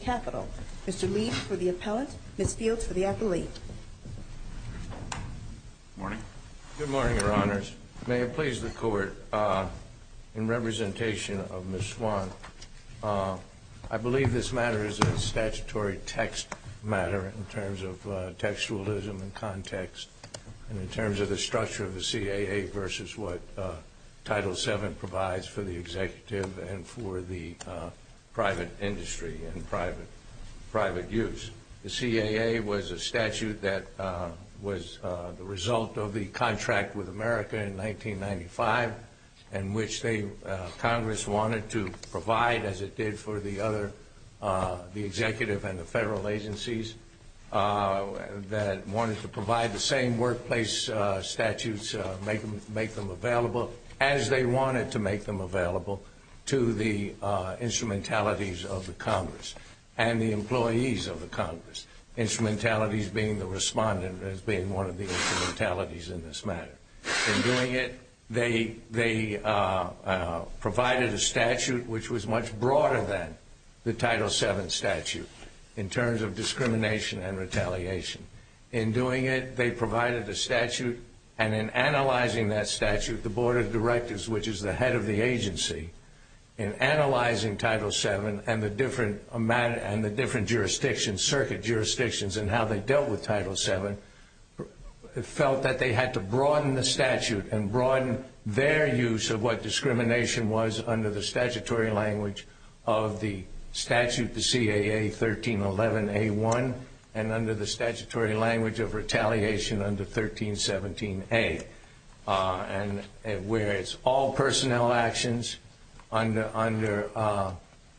Capitol. Mr. Lee for the appellant, Ms. Fields for the appellate. Good morning, Your Honors. May it please the Court, in representation of Ms. Swann, I believe this matter is a statutory text matter in terms of textuality. I believe it is a statutory textualism in context and in terms of the structure of the CAA versus what Title VII provides for the executive and for the private industry and private use. The CAA was a statute that was the result of the contract with America in 1995 in which Congress wanted to provide as it did for the other, the executive and the federal agencies that wanted to provide the same workplace statutes, make them available as they wanted to make them available to the instrumentalities of the Congress and the employees of the Congress, instrumentalities being the respondent as being one of the instrumentalities in this matter. In doing it, they provided a statute which was much broader than the Title VII statute in terms of discrimination and retaliation. In doing it, they provided a statute and in analyzing that statute, the Board of Directors, which is the head of the agency, in analyzing Title VII and the different jurisdictions, circuit jurisdictions and how they dealt with Title VII, felt that they had to broaden the statute and broaden their use of what discrimination was under the statutory language of the statute, the CAA 1311A1 and under the statutory language of retaliation under 1317A, where it's all personnel actions under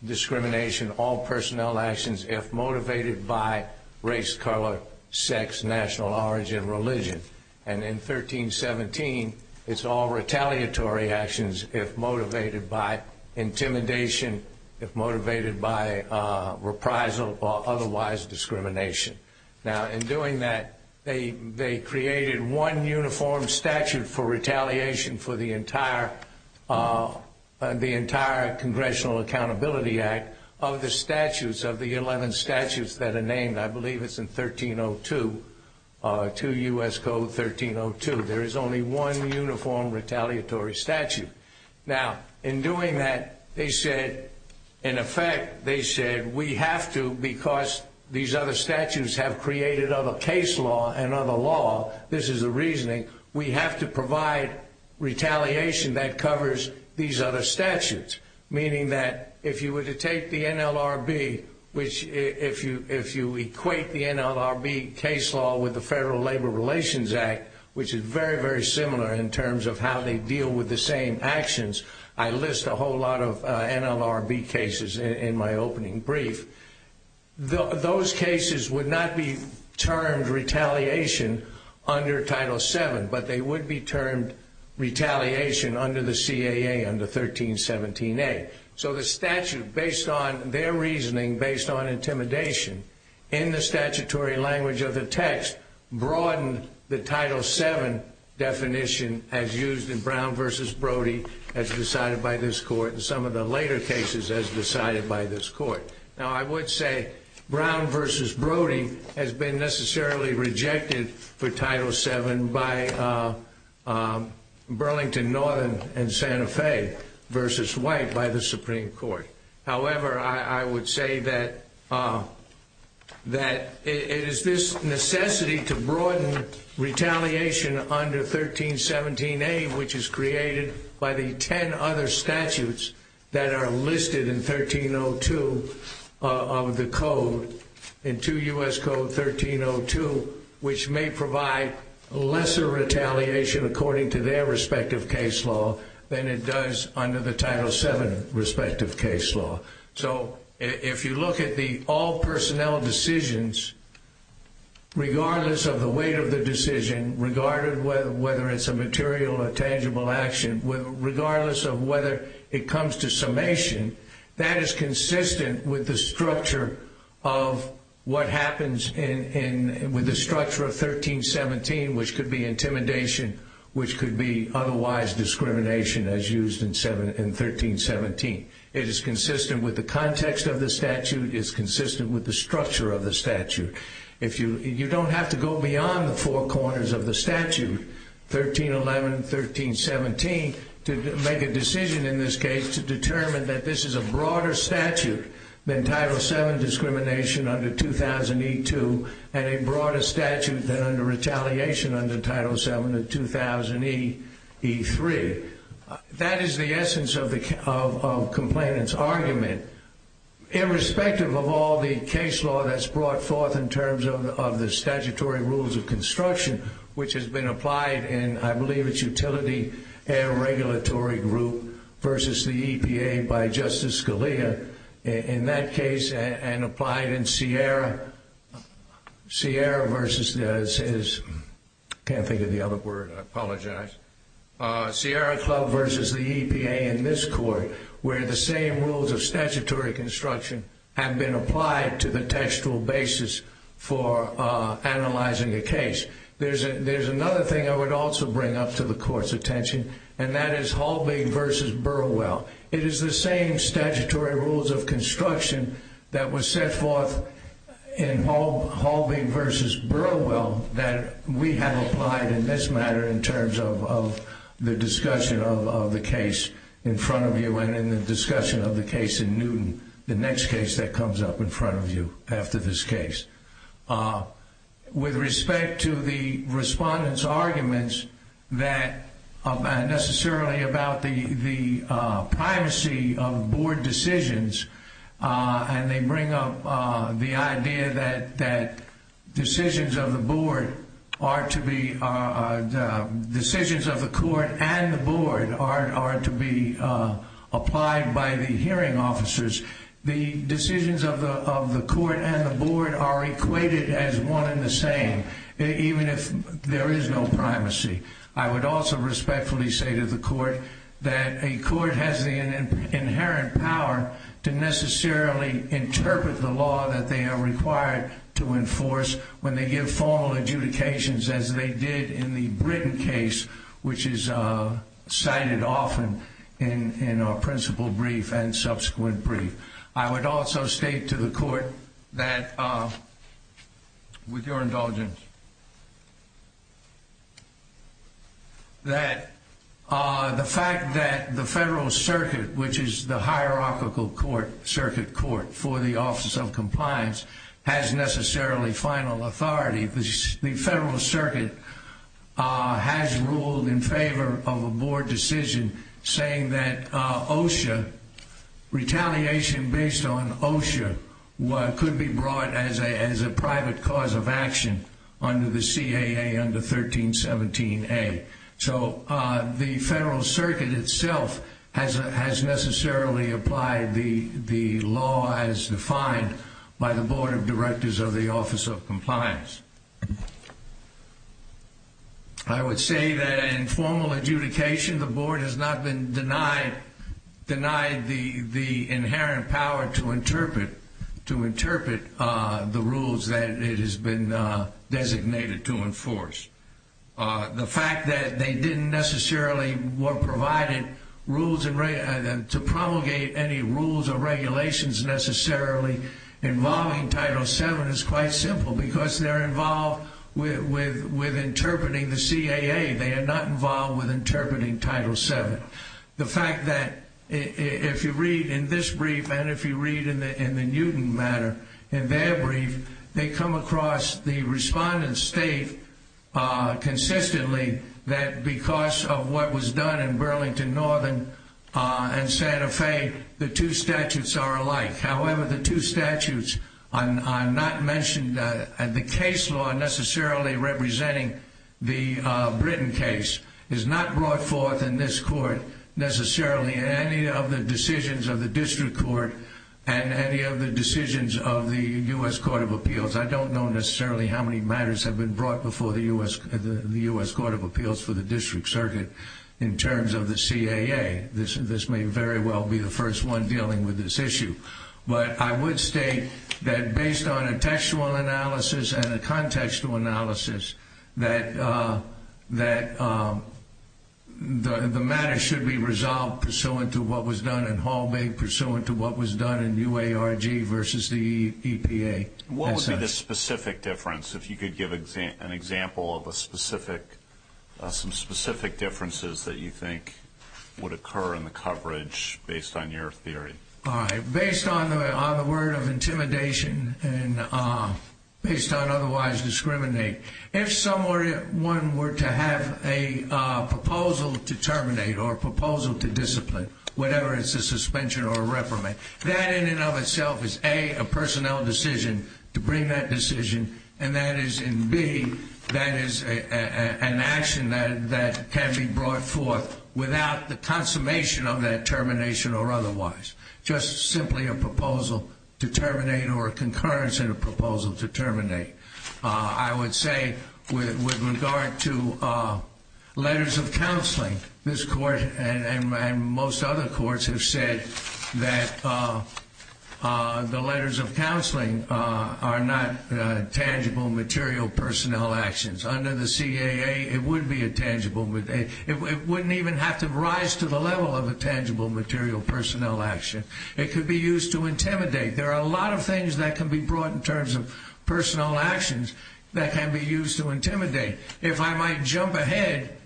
discrimination, all personnel actions if motivated by race, color, sex, national origin, religion. And in 1317, it's all retaliatory actions if motivated by intimidation, if motivated by reprisal or otherwise discrimination. Now in doing that, they created one uniform statute for retaliation for the entire Congressional Accountability Act of the statutes of the 11 statutes that are named. I believe it's in 1302, 2 U.S. Code 1302. There is only one uniform retaliatory statute. Now in doing that, they said, in effect, they said, we have to, because these other statutes have created other case law and other law, this is the reasoning, we have to provide retaliation that covers these other statutes, meaning that if you were to take the NLRB, which if you equate the NLRB case law with the Federal Labor Relations Act, which is very, very similar in terms of how they deal with the same actions. I list a whole lot of NLRB cases in my opening brief. Those cases would not be termed retaliation under Title 7, but they would be termed retaliation under the CAA, under 1317A. So the statute, based on their reasoning, based on intimidation, in the statutory language of the text, broadened the Title 7 definition as used in Brown v. Brody as decided by this Court and some of the later cases as decided by this Court. Now I would say Brown v. Brody has been necessarily rejected for Title 7 by Burlington Northern and Santa Fe v. White by the Supreme Court. However, I would say that it is this necessity to broaden retaliation under 1317A, which is created by the ten other statutes that are listed in 1302 of the Code, in 2 U.S. Code 1302, which may provide lesser retaliation according to their respective case law than it does under the Title 7 respective case law. So if you look at the all personnel decisions, regardless of the weight of the decision, regardless of whether it's a material or tangible action, regardless of whether it comes to summation, that is consistent with the structure of what happens with the structure of 1317, which could be intimidation, which could be otherwise discrimination as used in 1317. It is consistent with the context of the statute. It is consistent with the structure of the statute, 1311, 1317, to make a decision in this case to determine that this is a broader statute than Title 7 discrimination under 2000E2 and a broader statute than under retaliation under Title 7 of 2000E3. That is the essence of the complainant's argument. Irrespective of all the case law that's brought forth in terms of the statutory rules of construction, which has been applied in, I believe it's Utility Regulatory Group versus the EPA by Justice Scalia in that case and applied in Sierra Club versus the EPA in this court, where the same rules of statutory construction have been applied to the textual basis for the case. There's another thing I would also bring up to the court's attention, and that is Halbig versus Burwell. It is the same statutory rules of construction that was set forth in Halbig versus Burwell that we have applied in this matter in terms of the discussion of the case in front of you and in the discussion of the case in Newton, the next case that comes up in front of you after this case. With respect to the respondent's arguments that are not necessarily about the privacy of board decisions, and they bring up the idea that decisions of the court and the board are to be applied by the hearing officers, the decisions of the court and the board are equated as one and the same, even if there is no privacy. I would also respectfully say to the court that a court has the inherent power to necessarily interpret the law that they are required to enforce when they give formal adjudications as they did in the Britton case, which is cited often in our principal brief and subsequent brief. I would also state to the court that, with your indulgence, that the fact that the Federal Circuit, which is the hierarchical circuit court for the Office of Compliance, has necessarily final authority, the Federal Circuit has ruled in favor of a board decision saying that OSHA, retaliation based on OSHA, could be brought as a private cause of action under the CAA under 1317A. So the Federal Circuit itself has necessarily applied the law as defined by the Board of Compliance. I would say that in formal adjudication, the board has not been denied the inherent power to interpret the rules that it has been designated to enforce. The fact that they didn't necessarily provide rules to promulgate any rules or regulations necessarily involving Title VII is quite simple, because they're involved with interpreting the CAA, they are not involved with interpreting Title VII. The fact that, if you read in this brief and if you read in the Newton matter, in their brief, they come across, the respondents state consistently that because of what was done in Burlington Northern and Santa Fe, the two statutes are alike. However, the two statutes are not mentioned, and the case law necessarily representing the Britain case is not brought forth in this court necessarily in any of the decisions of the District Court and any of the decisions of the U.S. Court of Appeals. I don't know necessarily how many matters have been brought before the U.S. Court of Appeals in terms of the CAA. This may very well be the first one dealing with this issue, but I would state that based on a textual analysis and a contextual analysis, that the matter should be resolved pursuant to what was done in Hall Bay, pursuant to what was done in UARG versus the EPA. What would be the specific difference, if you could give an example of some specific differences that you think would occur in the coverage based on your theory? Based on the word of intimidation and based on otherwise discriminate, if someone were to have a proposal to terminate or a proposal to discipline, whatever it is, a suspension or a reprimand, that in and of itself is, A, a personnel decision to bring that decision, and that is, and B, that is an action that can be brought forth without the consummation of that termination or otherwise. Just simply a proposal to terminate or a concurrence in a proposal to terminate. I would say with regard to letters of counseling, this Court and most other courts have said that the letters of counseling are not tangible material personnel actions. Under the CAA, it would be a tangible, it wouldn't even have to rise to the level of a tangible material personnel action. It could be used to intimidate. There are a lot of things that can be brought in terms of personnel actions that can be used to intimidate. If I might jump ahead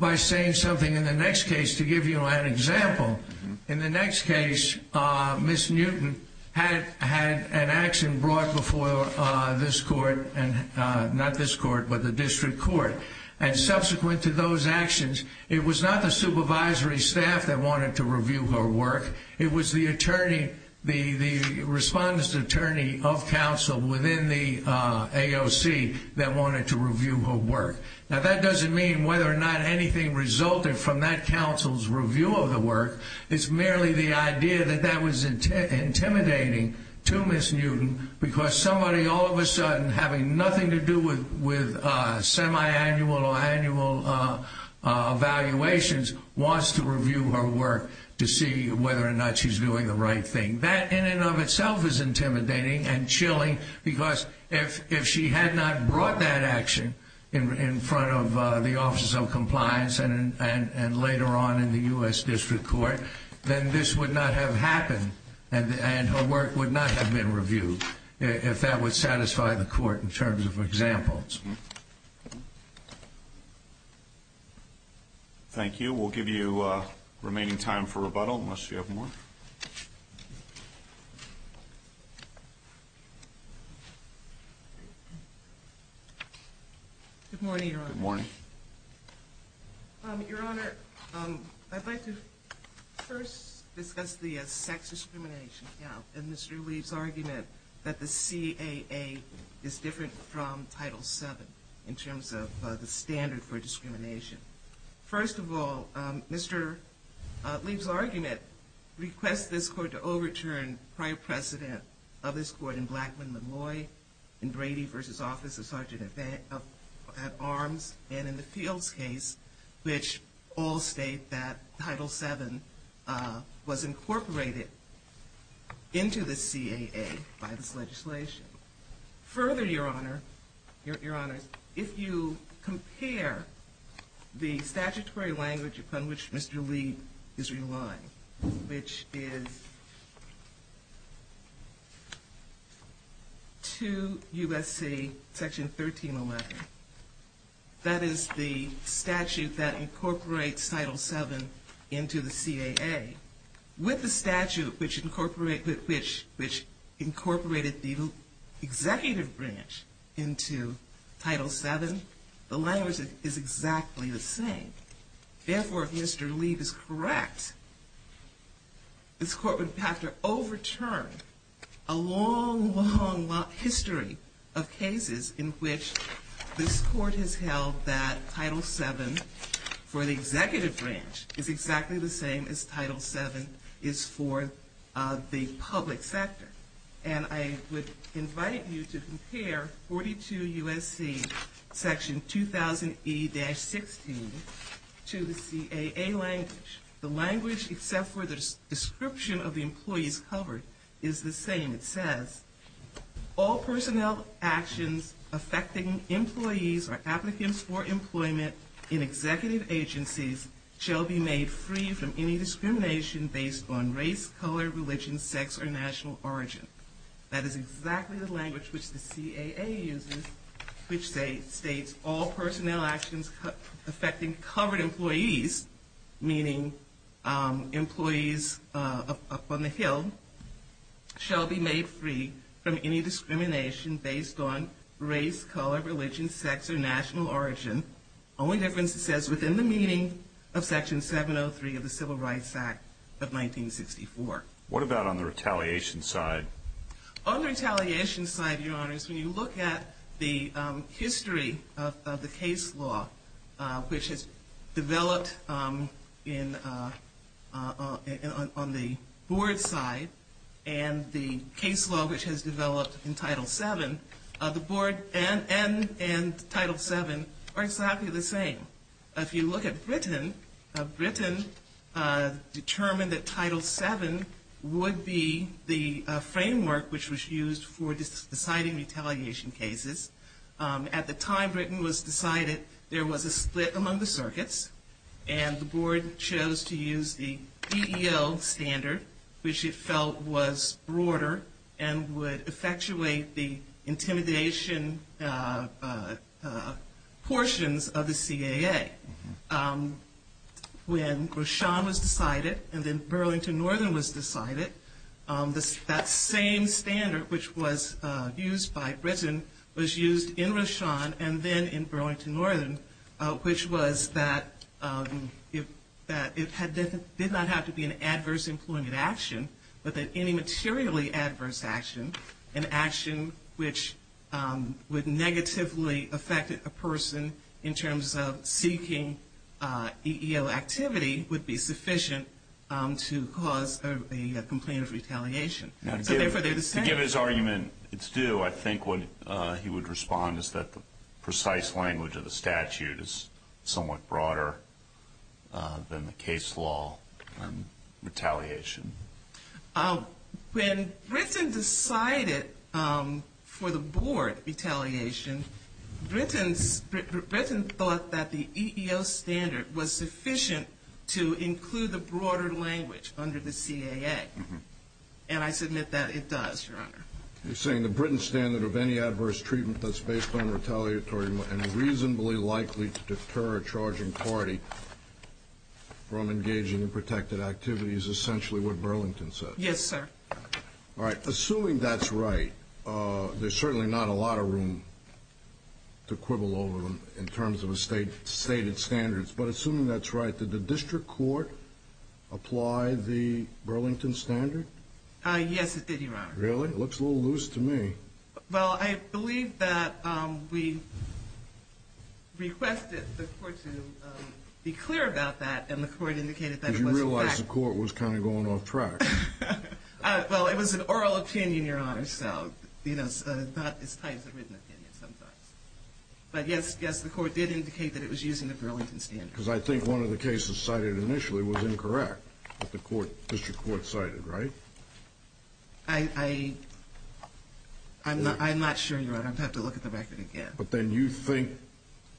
by saying something in the next case to give you an example, in the next case, Ms. Newton had an action brought before this Court, not this Court, but the district court. Subsequent to those actions, it was not the supervisory staff that wanted to review her work. It was the attorney, the respondent's attorney of counsel within the AOC that wanted to review her work. That doesn't mean whether or not anything resulted from that counsel's review of the work. It's merely the idea that that was intimidating to Ms. Newton because somebody all of a sudden having nothing to do with semi-annual or annual evaluations wants to review her work to see whether or not she's doing the right thing. That in and of itself is intimidating and chilling because if she had not brought that action in front of the Office of Compliance and later on in the U.S. District Court, then this would not have happened and her work would not have been reviewed, if that would have been the case. Thank you. We'll give you the remaining time for rebuttal, unless you have more. Good morning, Your Honor. Good morning. Your Honor, I'd like to first discuss the sex discrimination count and Mr. Lee's argument that the CAA is different from Title VII in terms of the standard for discrimination. First of all, Mr. Lee's argument requests this Court to overturn prior precedent of this Court in Blackman-Malloy, in Brady v. Office of Sergeant-at-Arms, and in the Fields case, which all state that Title VII was incorporated into the CAA. Further, Your Honor, if you compare the statutory language upon which Mr. Lee is relying, which is 2 U.S.C. Section 1311, that is the statute that incorporates Title VII into the CAA, with the statute which incorporated the executive branch into Title VII, the language is exactly the same. Therefore, if Mr. Lee is correct, this Court would have to overturn a long, long history of cases in which this Court has held that Title VII for the executive branch is exactly the same as Title VII is for the public sector. And I would invite you to compare 42 U.S.C. Section 2000E-16 to the CAA language. The language, except for the description of the employees covered, is the same. It says, All personnel actions affecting employees or applicants for employment in executive agencies, including employees up on the hill, shall be made free from any discrimination based on race, color, religion, sex, or national origin. That is exactly the language which the CAA uses, which states, All personnel actions affecting covered employees, meaning employees up on the hill, shall be made free from any discrimination based on race, color, religion, sex, or national origin. The only difference, it says, within the meaning of Section 703 of the Civil Rights Act of 1964. What about on the retaliation side? On the retaliation side, Your Honors, when you look at the history of the case law which has developed on the board side and the case law which has developed in Title VII, the rules are exactly the same. If you look at Britain, Britain determined that Title VII would be the framework which was used for deciding retaliation cases. At the time Britain was decided, there was a split among the circuits, and the board chose to use the DEL standard, which it felt was broader and would effectuate the intimidation process. Portions of the CAA, when Rochon was decided and then Burlington Northern was decided, that same standard which was used by Britain was used in Rochon and then in Burlington Northern, which was that it did not have to be an adverse employment action, but that any materially adverse action, an action which would negatively affect a person's ability in terms of seeking EEO activity would be sufficient to cause a complaint of retaliation. To give his argument it's due, I think what he would respond is that the precise language of the statute is somewhat broader than the case law retaliation. When Britain decided for the board retaliation, Britain thought that the EEO standard was sufficient to include the broader language under the CAA, and I submit that it does, Your Honor. You're saying the Britain standard of any adverse treatment that's based on retaliatory and reasonably likely to deter a charging party from engaging in protected activities is essentially what Burlington said? Yes, sir. All right. Assuming that's right, there's certainly not a lot of room to quibble over them in terms of the stated standards, but assuming that's right, did the district court apply the Burlington standard? Yes, it did, Your Honor. Really? It looks a little loose to me. Well, I believe that we requested the court to be clear about that, and the court indicated that it wasn't that. I didn't realize the court was kind of going off track. Well, it was an oral opinion, Your Honor, so not as tight as a written opinion sometimes. But yes, the court did indicate that it was using the Burlington standard. Because I think one of the cases cited initially was incorrect, that the district court cited, right? I'm not sure, Your Honor. I'd have to look at the record again. But then you think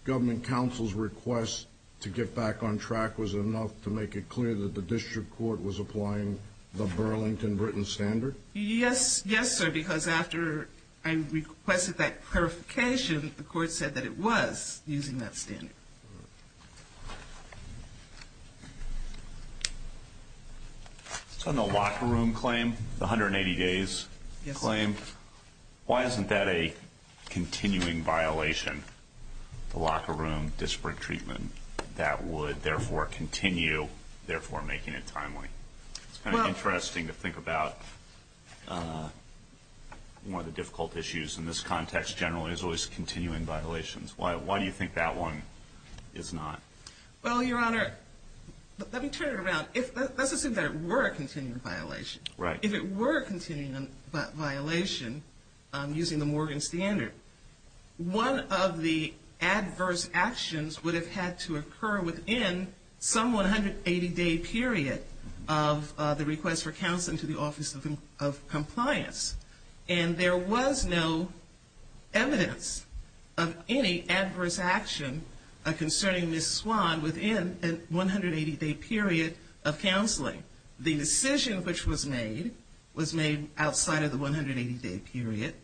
government counsel's request to get back on track was enough to make it clear that the district court was applying the Burlington written standard? Yes, yes, sir, because after I requested that clarification, the court said that it was using that standard. All right. So in the locker room claim, the 180 days claim, why isn't that a continuing violation, the locker room district treatment, that would therefore continue, therefore making it timely? It's kind of interesting to think about one of the difficult issues in this context generally is always continuing violations. Why do you think that one is not? Well, Your Honor, let me turn it around. Let's assume that it were a continuing violation. Right. If it were a continuing violation, using the Morgan standard, one of the adverse actions would have had to occur within some 180-day period of the request for counseling to the Office of Compliance. And there was no evidence of any adverse action concerning Ms. Swan within an 180-day period of counseling. The decision which was made was made outside of the 180-day period.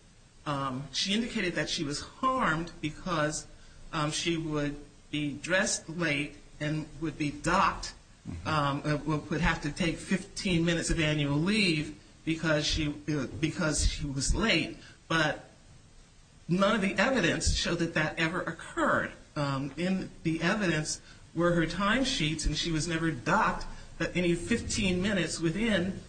She indicated that she was harmed because she would be dressed late and would be docked and would have to take 15 minutes of annual leave because she was late. But none of the evidence showed that that ever occurred. In the evidence were her time sheets, and she was never docked any 15 minutes within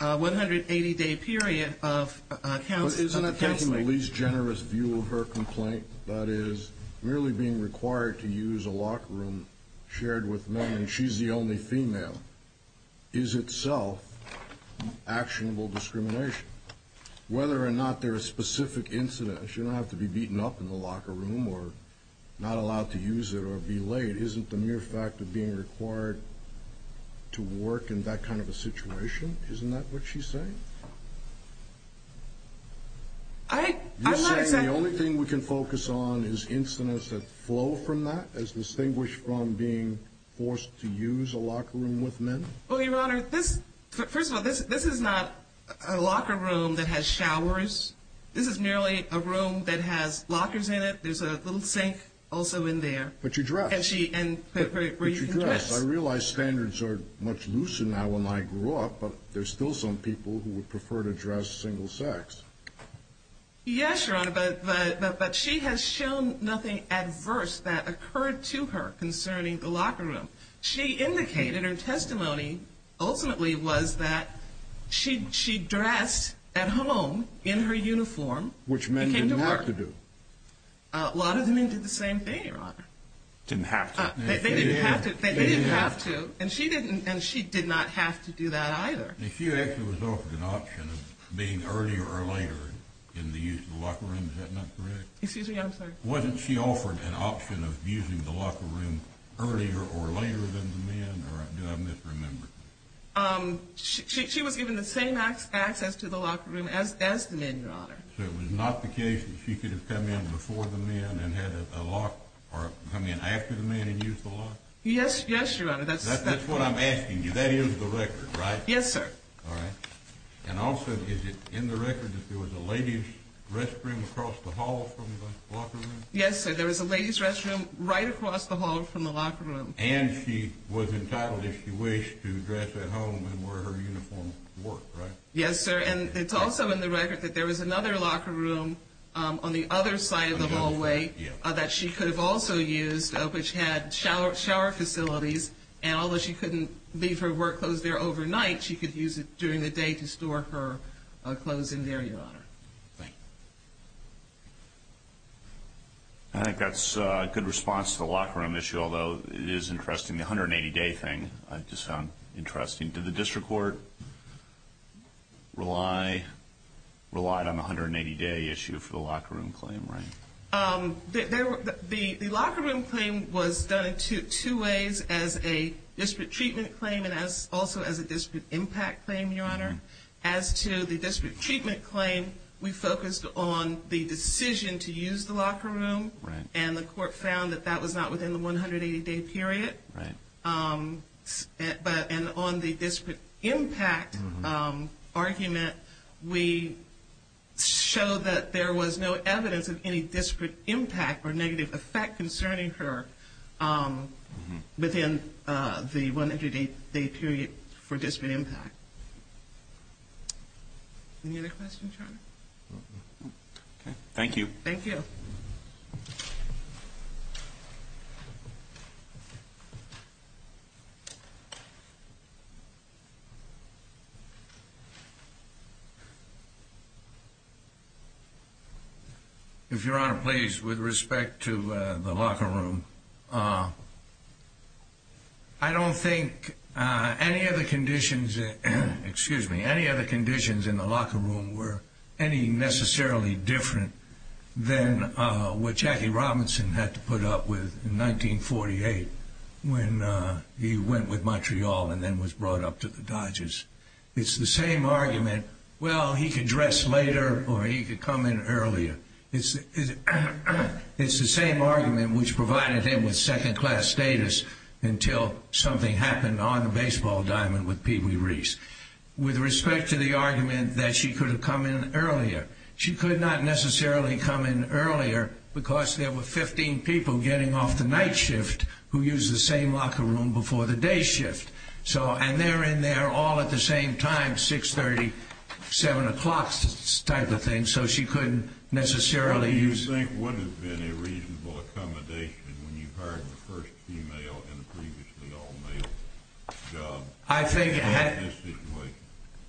a 180-day period of counseling. Isn't that taking the least generous view of her complaint? That is, merely being required to use a locker room shared with men, and she's the only female, is itself actionable discrimination. Whether or not there are specific incidents, she didn't have to be beaten up in the locker room or not allowed to use it or be laid. Isn't the mere fact of being required to work in that kind of a situation, isn't that what she's saying? I'm not saying... You're saying the only thing we can focus on is incidents that flow from that, as distinguished from being forced to use a locker room with men? Well, Your Honor, first of all, this is not a locker room that has showers. This is merely a room that has lockers in it. There's a little sink also in there. But you dress. And she... But you dress. I realize standards are much looser now than when I grew up, but there's still some people who would prefer to dress single-sex. Yes, Your Honor, but she has shown nothing adverse that occurred to her concerning the locker room. She indicated her testimony ultimately was that she dressed at home in her uniform. Which men didn't have to do. A lot of men did the same thing, Your Honor. Didn't have to. They didn't have to. They didn't have to. And she didn't... And she did not have to do that either. If you actually was offered an option of being earlier or later in the use of the locker room, is that not correct? Excuse me, I'm sorry. Wasn't she offered an option of using the locker room earlier or later than the men or do I misremember? She was given the same access to the locker room as the men, Your Honor. So it was not the case that she could have come in before the men and had a lock or come in after the men and used the lock? Yes, Your Honor, that's... That's what I'm asking you. That is the record, right? Yes, sir. All right. And also, is it in the record that there was a ladies' restroom across the hall from the locker room? Yes, sir. There was a ladies' restroom right across the hall from the locker room. And she was entitled, if she wished, to dress at home and wear her uniform to work, right? Yes, sir. And it's also in the record that there was another locker room on the other side of the hallway that she could have also used, which had shower facilities. And although she couldn't leave her work clothes there overnight, she could use it during the day to store her clothes in there, Your Honor. Thank you. I think that's a good response to the locker room issue, although it is interesting. The 180-day thing, I just found interesting. Did the district court rely on the 180-day issue for the locker room claim, right? The locker room claim was done in two ways, as a disparate treatment claim and also as a disparate impact claim, Your Honor. As to the disparate treatment claim, we focused on the decision to use the locker room. Right. And the court found that that was not within the 180-day period. Right. And on the disparate impact argument, we show that there was no evidence of any disparate impact or negative effect concerning her within the 180-day period for disparate impact. Any other questions, Your Honor? Thank you. Thank you. Thank you. If Your Honor, please, with respect to the locker room, I don't think any of the conditions Excuse me. Any other conditions in the locker room were any necessarily different than what Jackie Robinson had to put up with in 1948 when he went with Montreal and then was brought up to the Dodgers. It's the same argument, well, he could dress later or he could come in earlier. It's the same argument which provided him with second-class status until something happened on the baseball diamond with Pee Wee Reese. With respect to the argument that she could have come in earlier, she could not necessarily come in earlier because there were 15 people getting off the night shift who used the same locker room before the day shift. And they're in there all at the same time, 6.30, 7 o'clock type of thing, so she couldn't necessarily use What do you think would have been a reasonable accommodation when you hired the first female and the previously all-male job in this situation?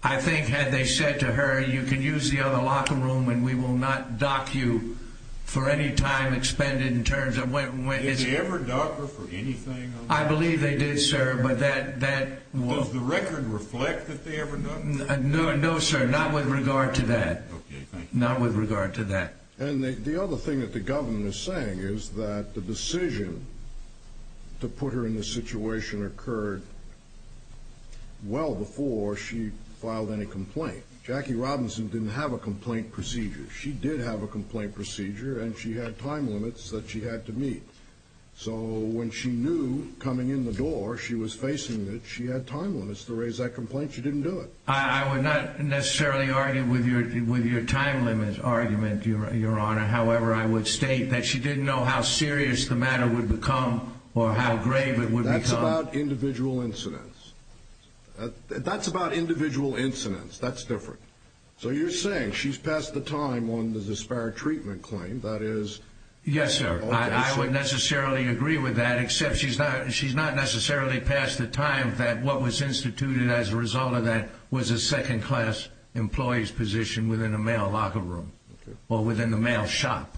I think had they said to her, you can use the other locker room and we will not dock you for any time expended in terms of when it's Did they ever dock her for anything? I believe they did, sir, but that Does the record reflect that they ever docked her? No, sir, not with regard to that. Okay, thank you. Not with regard to that. And the other thing that the government is saying is that the decision to put her in this situation occurred well before she filed any complaint. Jackie Robinson didn't have a complaint procedure. She did have a complaint procedure and she had time limits that she had to meet. So when she knew coming in the door she was facing it, she had time limits to raise that complaint, she didn't do it. I would not necessarily argue with your time limit argument, Your Honor. However, I would state that she didn't know how serious the matter would become or how grave it would become. That's about individual incidents. That's about individual incidents. That's different. So you're saying she's past the time on the disparate treatment claim, that is Yes, sir. I would necessarily agree with that, except she's not necessarily past the time that what was instituted as a result of that was a second-class employee's position within a male locker room or within the male shop.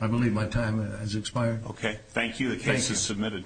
I believe my time has expired. Okay, thank you. The case is submitted.